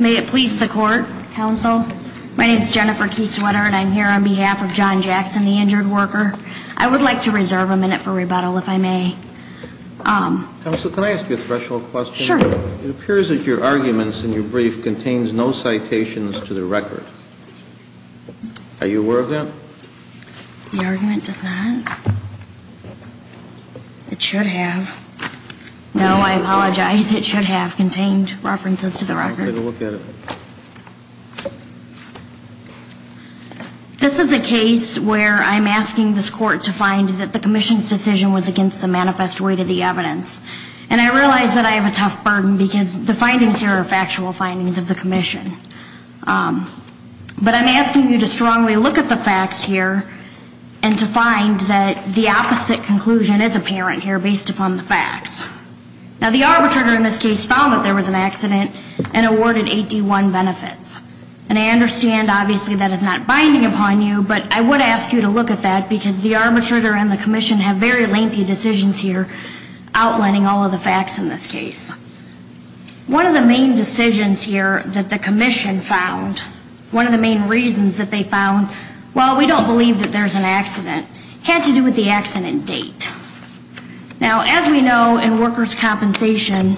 May it please the court, counsel. My name is Jennifer Keeswetter and I'm here on behalf of John Jackson, the injured worker. I would like to reserve a minute for rebuttal if I The previous argument did not contain any references to the record. Ms. McClendon. Sure. It appears that your arguments in your brief contains no citations to the record. Are you aware of that? Ms. McClendon. The argument does not? It should have. No, I apologize. It should have contained references to the record. Ms. McClendon. I'm sorry. Take a look at it. Ms. McClendon. This is a case where I'm asking this court to find that the commission's decision was against the manifest way to the evidence. And I realize that I have a tough burden because the findings here are factual findings of the commission. But I'm asking you to strongly look at the facts here and to find that the opposite conclusion is apparent here based upon the facts. Now, the arbitrator in this case found that there was an accident and awarded 81 benefits. And I understand, obviously, that is not binding upon you, but I would ask you to look at that because the arbitrator and the commission have very lengthy decisions here outlining all of the facts in this case. One of the main decisions here that the commission found, one of the main reasons that they found, well, we don't believe that there's an accident, had to do with the accident date. Now, as we know in workers' compensation,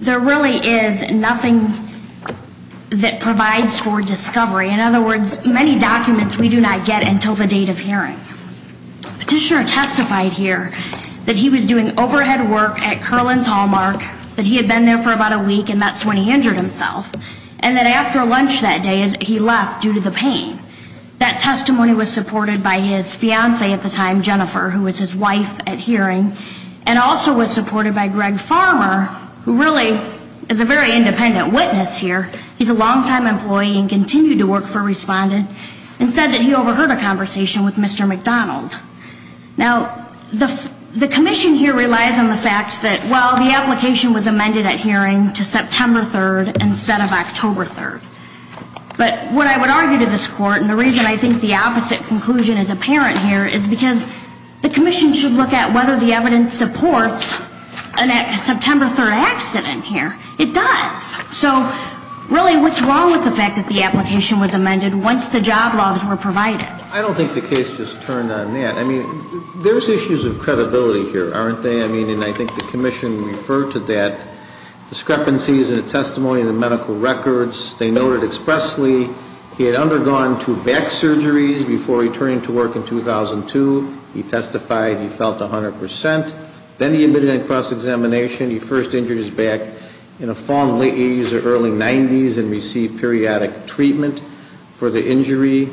there really is nothing that provides for discovery. In other words, many documents we do not get until the date of hearing. Petitioner testified here that he was doing overhead work at Curlin's Hallmark, that he had been there for about a week and that's when he injured himself, and that after lunch that day he left due to the pain. That testimony was supported by his fiancée at the time, Jennifer, who was his wife at hearing, and also was supported by Greg Farmer, who really is a very independent witness here. He's a long-time employee and continued to work for Respondent, and said that he overheard a conversation with Mr. McDonald. Now, the commission here relies on the fact that, well, the application was amended at hearing to September 3rd instead of October 3rd. But what I would argue to this Court, and the reason I think the opposite conclusion is apparent here, is because the commission should look at whether the evidence supports a September 3rd accident here. It does. So, really, what's wrong with the fact that the application was amended once the job laws were provided? I don't think the case just turned on that. I mean, there's issues of credibility here, aren't they? I mean, and I think the commission referred to that, discrepancies in the testimony and the medical records. They noted expressly he had undergone two back surgeries before returning to work in 2002. He testified he felt 100 percent. Then he admitted in a cross-examination he first injured his back in a form late 80s or early 90s and received periodic treatment for the injury.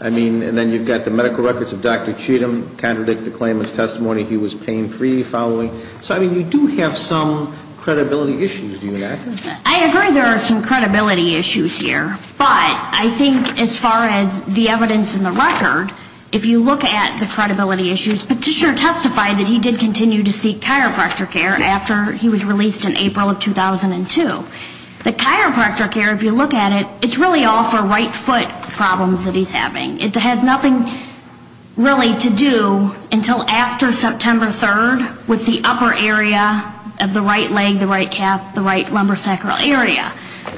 I mean, and then you've got the medical records of Dr. Cheatham, contradict the claimant's testimony he was pain-free following. So, I mean, you do have some credibility issues, do you not? I agree there are some credibility issues here. But I think as far as the evidence in the record, if you look at the credibility issues, Petitioner testified that he did continue to seek chiropractor care after he was released in April of 2002. The chiropractor care, if you look at it, it's really all for right foot problems that he's having. It has nothing really to do until after September 3rd with the upper area of the right leg, the right sacral area,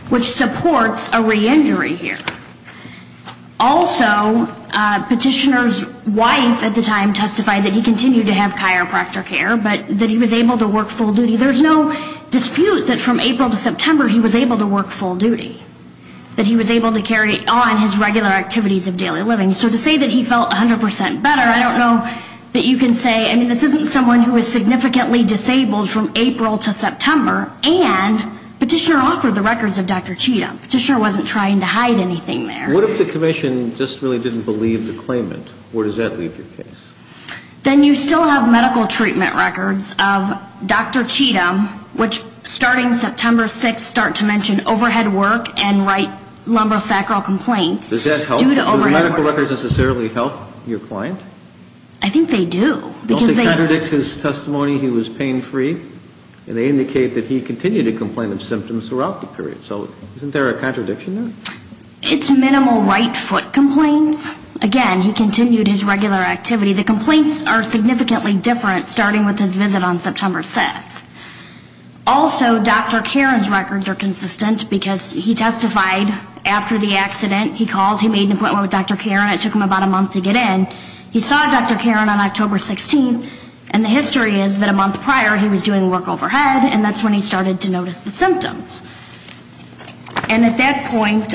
which supports a re-injury here. Also, Petitioner's wife at the time testified that he continued to have chiropractor care, but that he was able to work full duty. There's no dispute that from April to September he was able to work full duty, that he was able to carry on his regular activities of daily living. So to say that he felt 100 percent better, I don't know that you can say, I mean, this isn't someone who is significantly disabled from April to September, and Petitioner offered the records of Dr. Cheatham. Petitioner wasn't trying to hide anything there. What if the Commission just really didn't believe the claimant? Where does that leave your case? Then you still have medical treatment records of Dr. Cheatham, which starting September 6th start to mention overhead work and write lumbar sacral complaints due to overhead work. Does that help? Do the medical records necessarily help your client? I think they do. Don't they contradict his testimony, he was pain free? And they indicate that he continued to complain of symptoms throughout the period. So isn't there a contradiction there? It's minimal right foot complaints. Again, he continued his regular activity. The complaints are significantly different starting with his visit on September 6th. Also, Dr. Karen's records are consistent because he testified after the accident. He called, he made an appointment with Dr. Karen. It took him about a month to get in. He saw Dr. Karen on October 16th. And the history is that a month prior he was doing work overhead and that's when he started to notice the symptoms. And at that point,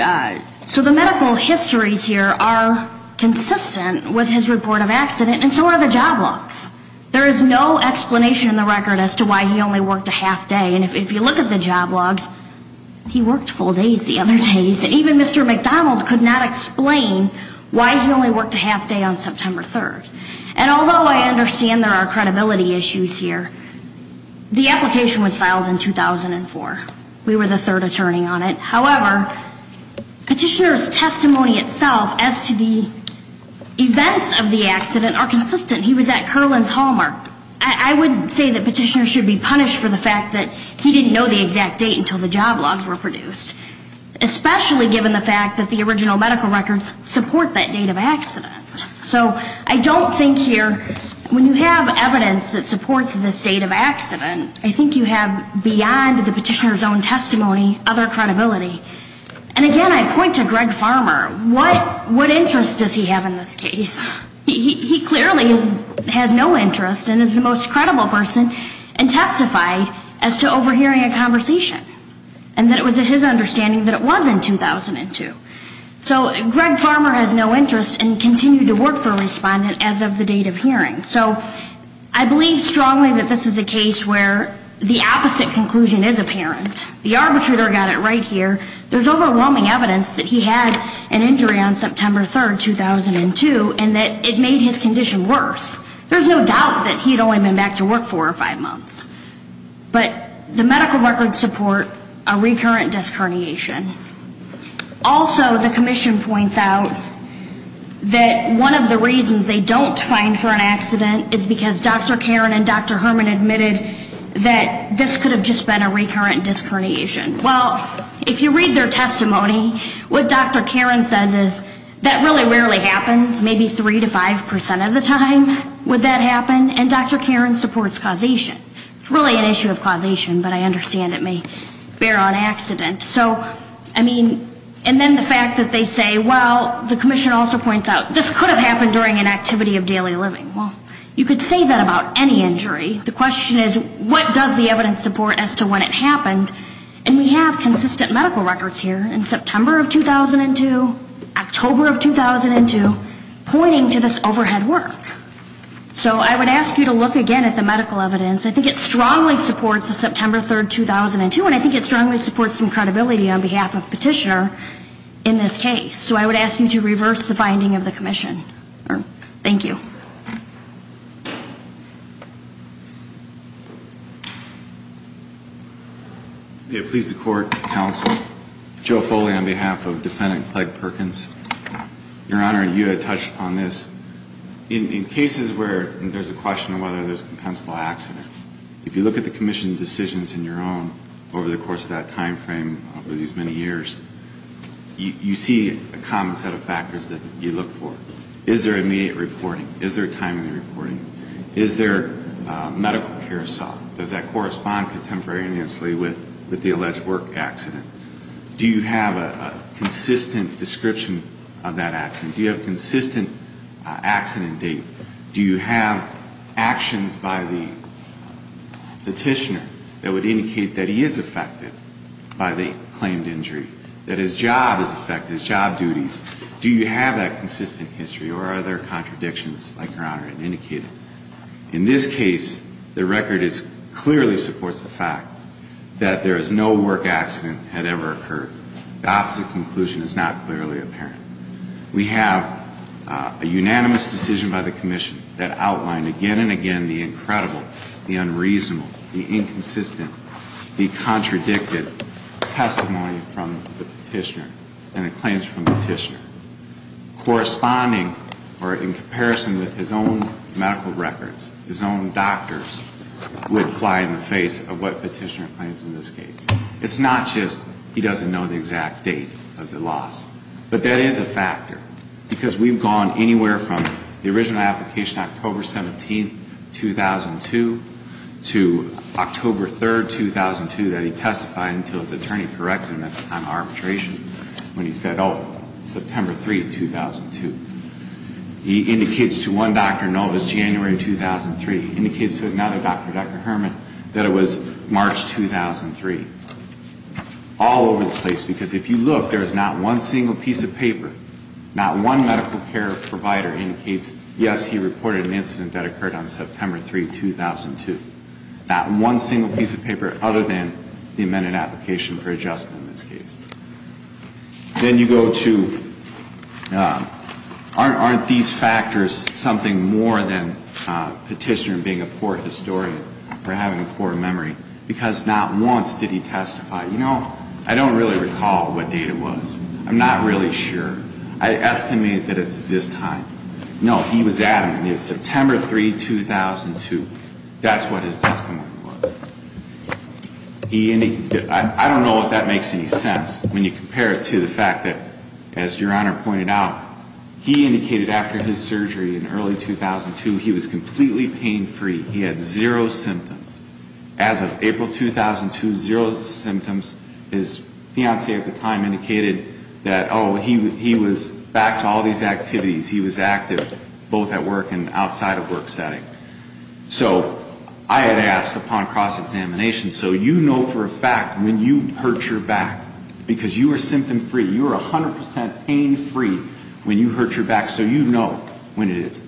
so the medical histories here are consistent with his report of accident and so are the job logs. There is no explanation in the record as to why he only worked a half day. And if you look at the job logs, he worked full days the other days. And even Mr. McDonald could not explain why he only worked a half day on September 3rd. And although I understand there are credibility issues here, the application was filed in 2004. We were the third attorney on it. However, Petitioner's testimony itself as to the events of the accident are consistent. He was at Kerlin's Hallmark. I would say that Petitioner should be punished for the fact that he didn't know the exact date until the job logs were produced. Especially given the fact that the original medical records support that date of accident. So I don't think here, when you have evidence that supports the state of accident, I think you have beyond the Petitioner's own testimony other credibility. And again, I point to Greg Farmer. What interest does he have in this case? He clearly has no interest and is the most credible person and testified as to overhearing a conversation. And that it was his understanding that it was in 2002. So Greg Farmer has no interest and continued to work for a respondent as of the date of hearing. So I believe strongly that this is a case where the opposite conclusion is apparent. The arbitrator got it right here. There's overwhelming evidence that he had an injury on September 3rd, 2002, and that it made his condition worse. There's no doubt that he'd only been back to work four or five months. But the medical records support a recurrent disc herniation. Also, the Commission points out that one of the reasons they don't find for an accident is because Dr. Karin and Dr. Herman admitted that this could have just been a recurrent disc herniation. Well, if you read their testimony, what Dr. Karin says is that really rarely happens, maybe 3 to 5% of the time would that happen. And Dr. Karin supports causation. Really an issue of causation, but I understand it may bear on accident. So, I mean, and then the fact that they say, well, the Commission also points out, this could have happened during an activity of daily living. Well, you could say that about any injury. The question is, what does the evidence support as to when it happened? And we have consistent medical records here in September of 2002, October of 2002, pointing to this overhead work. So I would ask you to look again at the medical evidence. I think it strongly supports the September 3rd, 2002, and I think it strongly supports some credibility on behalf of Petitioner in this case. So I would ask you to reverse the finding of the Commission. Thank you. If it pleases the Court, Counsel, Joe Foley on behalf of Defendant Clegg Perkins. Your case is where there's a question of whether there's a compensable accident. If you look at the Commission decisions on your own over the course of that time frame, over these many years, you see a common set of factors that you look for. Is there immediate reporting? Is there timely reporting? Is there medical care sought? Does that correspond contemporaneously with the alleged work accident? Do you have a consistent description of that accident? Do you have consistent accident date? Do you have actions by the Petitioner that would indicate that he is affected by the claimed injury, that his job is affected, his job duties? Do you have that consistent history or are there contradictions like Your Honor had indicated? In this case, the record clearly supports the fact that there is no work accident that had ever occurred. The opposite conclusion is not clearly apparent. We have a unanimous decision by the Commission that outlined again and again the incredible, the unreasonable, the inconsistent, the contradicted testimony from the Petitioner and the claims from Petitioner. Corresponding or in comparison with his own medical records, his own doctors, would fly in the face of what Petitioner claims in this case. It's not just he doesn't know the exact date of the loss, but that is a factor because we've gone anywhere from the original application October 17, 2002 to October 3, 2002 that he testified until his attorney corrected him at the time of arbitration when he said, oh, September 3, 2002. He indicates to one Dr. Novus January 2003, indicates to another Dr. Herman that it was March 2003. All over the place because if you look, there is not one single piece of paper, not one medical care provider indicates, yes, he reported an incident that occurred on September 3, 2002. Not one single piece of paper other than the amended application for adjustment in this case. Then you go to, aren't these factors something more than Petitioner being a poor historian or having a poor memory? Because not once did he testify. You know, I don't really recall what date it was. I'm not really sure. I estimate that it's this time. No, he was adamant. It's September 3, 2002. That's what his testimony was. I don't know if that makes any sense when you compare it to the fact that, as Your Honor pointed out, he indicated after his surgery in early 2002, he was completely pain-free. He had zero symptoms. As of April 2002, zero symptoms. His fiancée at the time indicated that, oh, he was back to all these activities. He was active both at work and outside of work setting. So I had asked upon cross-examination, so you know for a fact when you hurt your back because you are symptom-free, you are 100% pain-free when you hurt your back, so you know when it is.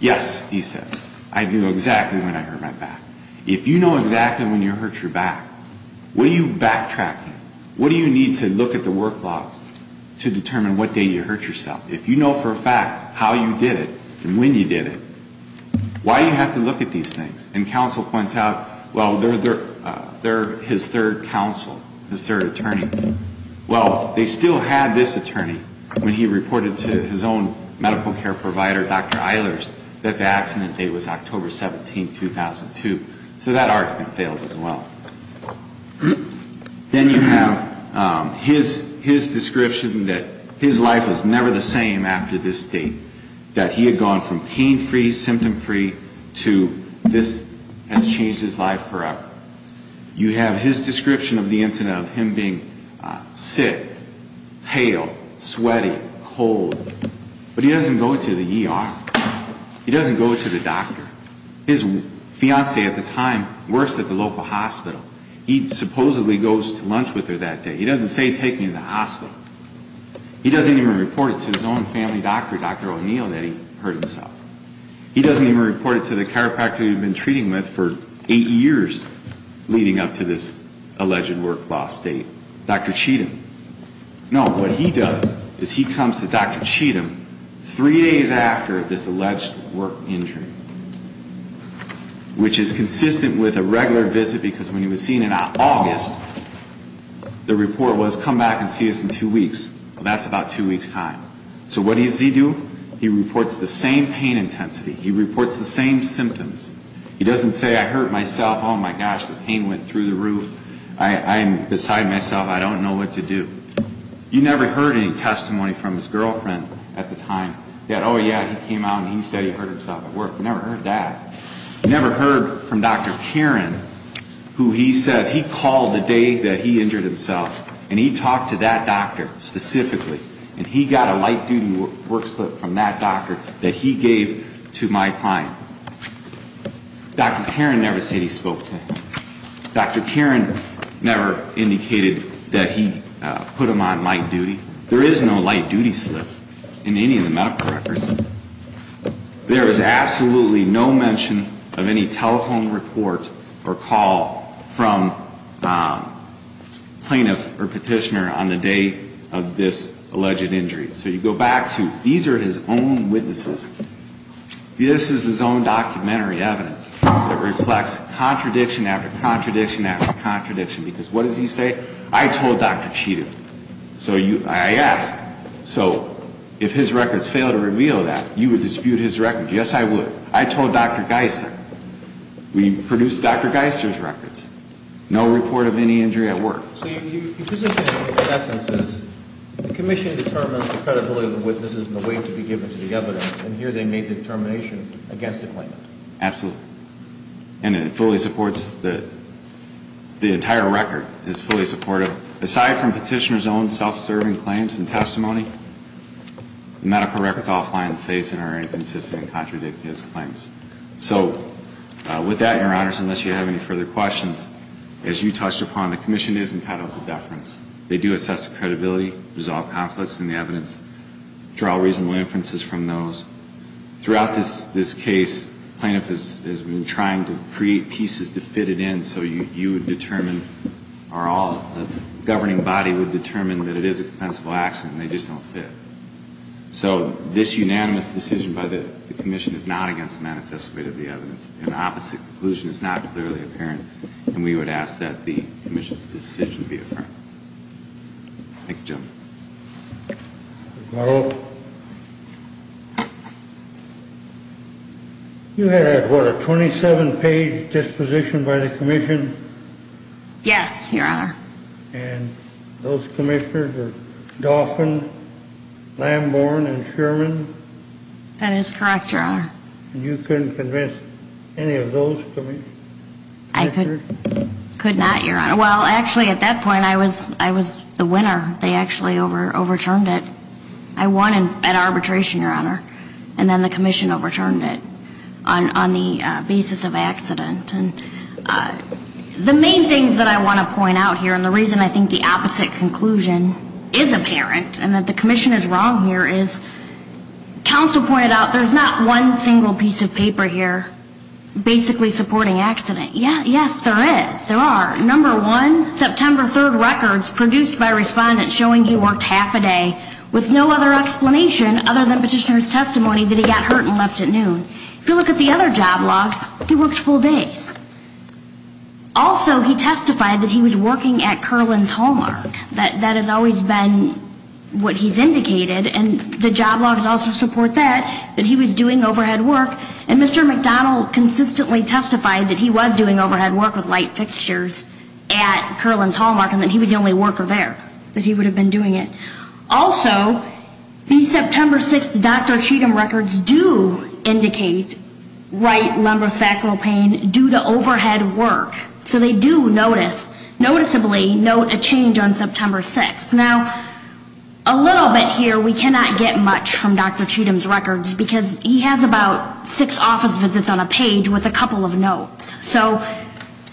Yes, he says. I knew exactly when I hurt my back. If you know exactly when you hurt your back, what do you backtrack on? What do you need to look at the work logs to determine what date you hurt yourself? If you know for a fact how you did it and when you did it, why do you have to look at these things? And counsel points out, well, his third counsel, his third attorney, well, they still had this attorney when he reported to his own medical care provider, Dr. Eilers, that the accident date was October 17, 2002. So that argument fails as well. Then you have his description that his life was never the same after this date, that he had gone from pain-free, symptom-free, to this has changed his life forever. You have his description of the incident of him being sick, pale, sweaty, cold, but he doesn't go to the ER. He doesn't go to the doctor. His fiancée at the time works at the local hospital. He supposedly goes to lunch with her that day. He doesn't say, take me to the hospital. He doesn't even report it to his own family doctor, Dr. O'Neill, that he hurt himself. He doesn't even report it to the chiropractor he had been treating with for eight years leading up to this alleged work loss date, Dr. Cheatham. No, what he does is he comes to Dr. Cheatham three days after this alleged work injury, which is consistent with a regular August. The report was, come back and see us in two weeks. Well, that's about two weeks' time. So what does he do? He reports the same pain intensity. He reports the same symptoms. He doesn't say, I hurt myself. Oh, my gosh, the pain went through the roof. I am beside myself. I don't know what to do. You never heard any testimony from his girlfriend at the time that, oh, yeah, he came out and he said he hurt himself at work. You never heard that. You never heard from Dr. Kieran who he says he called the day that he injured himself and he talked to that doctor specifically and he got a light-duty work slip from that doctor that he gave to my client. Dr. Kieran never said he spoke to him. Dr. Kieran never indicated that he put him on light-duty. There is no light-duty slip in any of the medical records. There is absolutely no mention of any telephone report or call from plaintiff or petitioner on the day of this alleged injury. So you go back to, these are his own witnesses. This is his own documentary evidence that reflects contradiction after contradiction after contradiction because what does he say? I told Dr. Cheetham. So I asked, so if his records fail to reveal that, you would dispute his records? Yes, I would. I told Dr. Geisler. We produced Dr. Geisler's records. No report of any injury at work. So your position in essence is the commission determines the credibility of the witnesses and the weight to be given to the evidence and here they made the determination against the claimant. Absolutely. And it fully supports the, the entire record is fully supportive aside from petitioner's own self-serving claims and testimony. Medical records all lie in the face and are inconsistent and contradict his claims. So with that, your honors, unless you have any further questions, as you touched upon, the commission is entitled to deference. They do assess the credibility, resolve conflicts in the evidence, draw reasonable inferences from those. Throughout this, this case, plaintiff has, has been trying to create pieces to fit it in so you, you would determine are all, a governing body would determine that it is a defensible accident and they just don't fit. So this unanimous decision by the commission is not against the manifest weight of the evidence. An opposite conclusion is not clearly apparent and we would ask that the commission's decision be affirmed. Thank you, gentlemen. Ms. Morrow, you had, what, a 27-page disposition by the commission? Yes, your honor. And those commissioners were Dauphin, Lambourne, and Sherman? That is correct, your honor. And you couldn't convince any of those commissioners? I could, could not, your honor. Well, actually at that point, I was, I was the winner. They actually overturned it. I won at arbitration, your honor, and then the commission overturned it on, on the basis of accident. And the main things that I want to point out here and the reason I think the opposite conclusion is apparent and that the commission is wrong here is counsel pointed out there's not one single piece of paper here basically supporting accident. Yes, there is, there are. Number one, September 3rd records produced by respondents showing he worked half a day with no other explanation other than petitioner's testimony that he got hurt and left at noon. If you testify that he was working at Kerlin's Hallmark, that, that has always been what he's indicated and the job logs also support that, that he was doing overhead work. And Mr. McDonald consistently testified that he was doing overhead work with light fixtures at Kerlin's Hallmark and that he was the only worker there, that he would have been doing it. Also, the September 6th Dr. Cheatham records do indicate right lumbar sacral pain due to overhead work. So they do notice, noticeably note a change on September 6th. Now, a little bit here we cannot get much from Dr. Cheatham's records because he has about six office visits on a page with a couple of notes. So,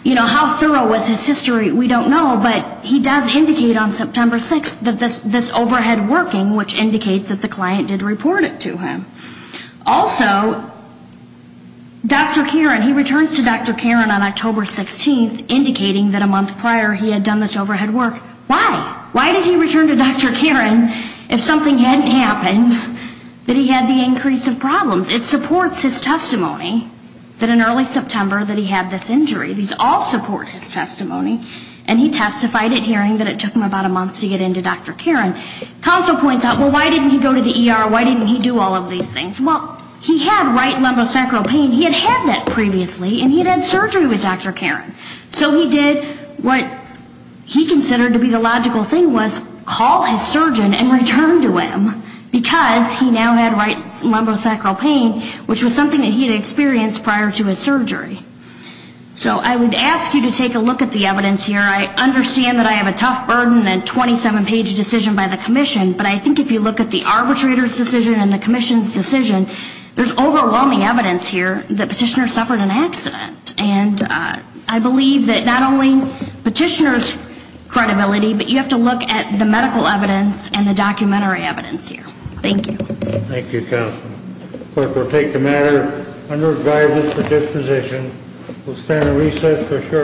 you know, how thorough was his history, we don't know, but he does indicate on September 6th that this, this overhead working, which indicates that the client did report it to him. Also, Dr. Kieran, he returns to Dr. Kieran on October 16th indicating that a month prior he had done this overhead work. Why? Why did he return to Dr. Kieran if something hadn't happened that he had the increase of problems? It supports his testimony that in early September that he had this injury. These all support his testimony. And he testified at hearing that it took him about a month to get into Dr. Kieran. Counsel points out, well, why didn't he go to the ER? Why didn't he do all of these things? Well, he had right lumbar sacral pain. He had had that previously and he had had that before Dr. Kieran. So he did what he considered to be the logical thing was call his surgeon and return to him because he now had right lumbar sacral pain, which was something that he had experienced prior to his surgery. So I would ask you to take a look at the evidence here. I understand that I have a tough burden and 27-page decision by the commission, but I think if you look at the arbitrator's decision and the commission's decision, there's overwhelming evidence here that Petitioner suffered an accident. And I believe that not only Petitioner's credibility, but you have to look at the medical evidence and the documentary evidence here. Thank you. Thank you, Counsel. Clerk, we'll take the matter under guidance for disposition. We'll stand at recess for a short...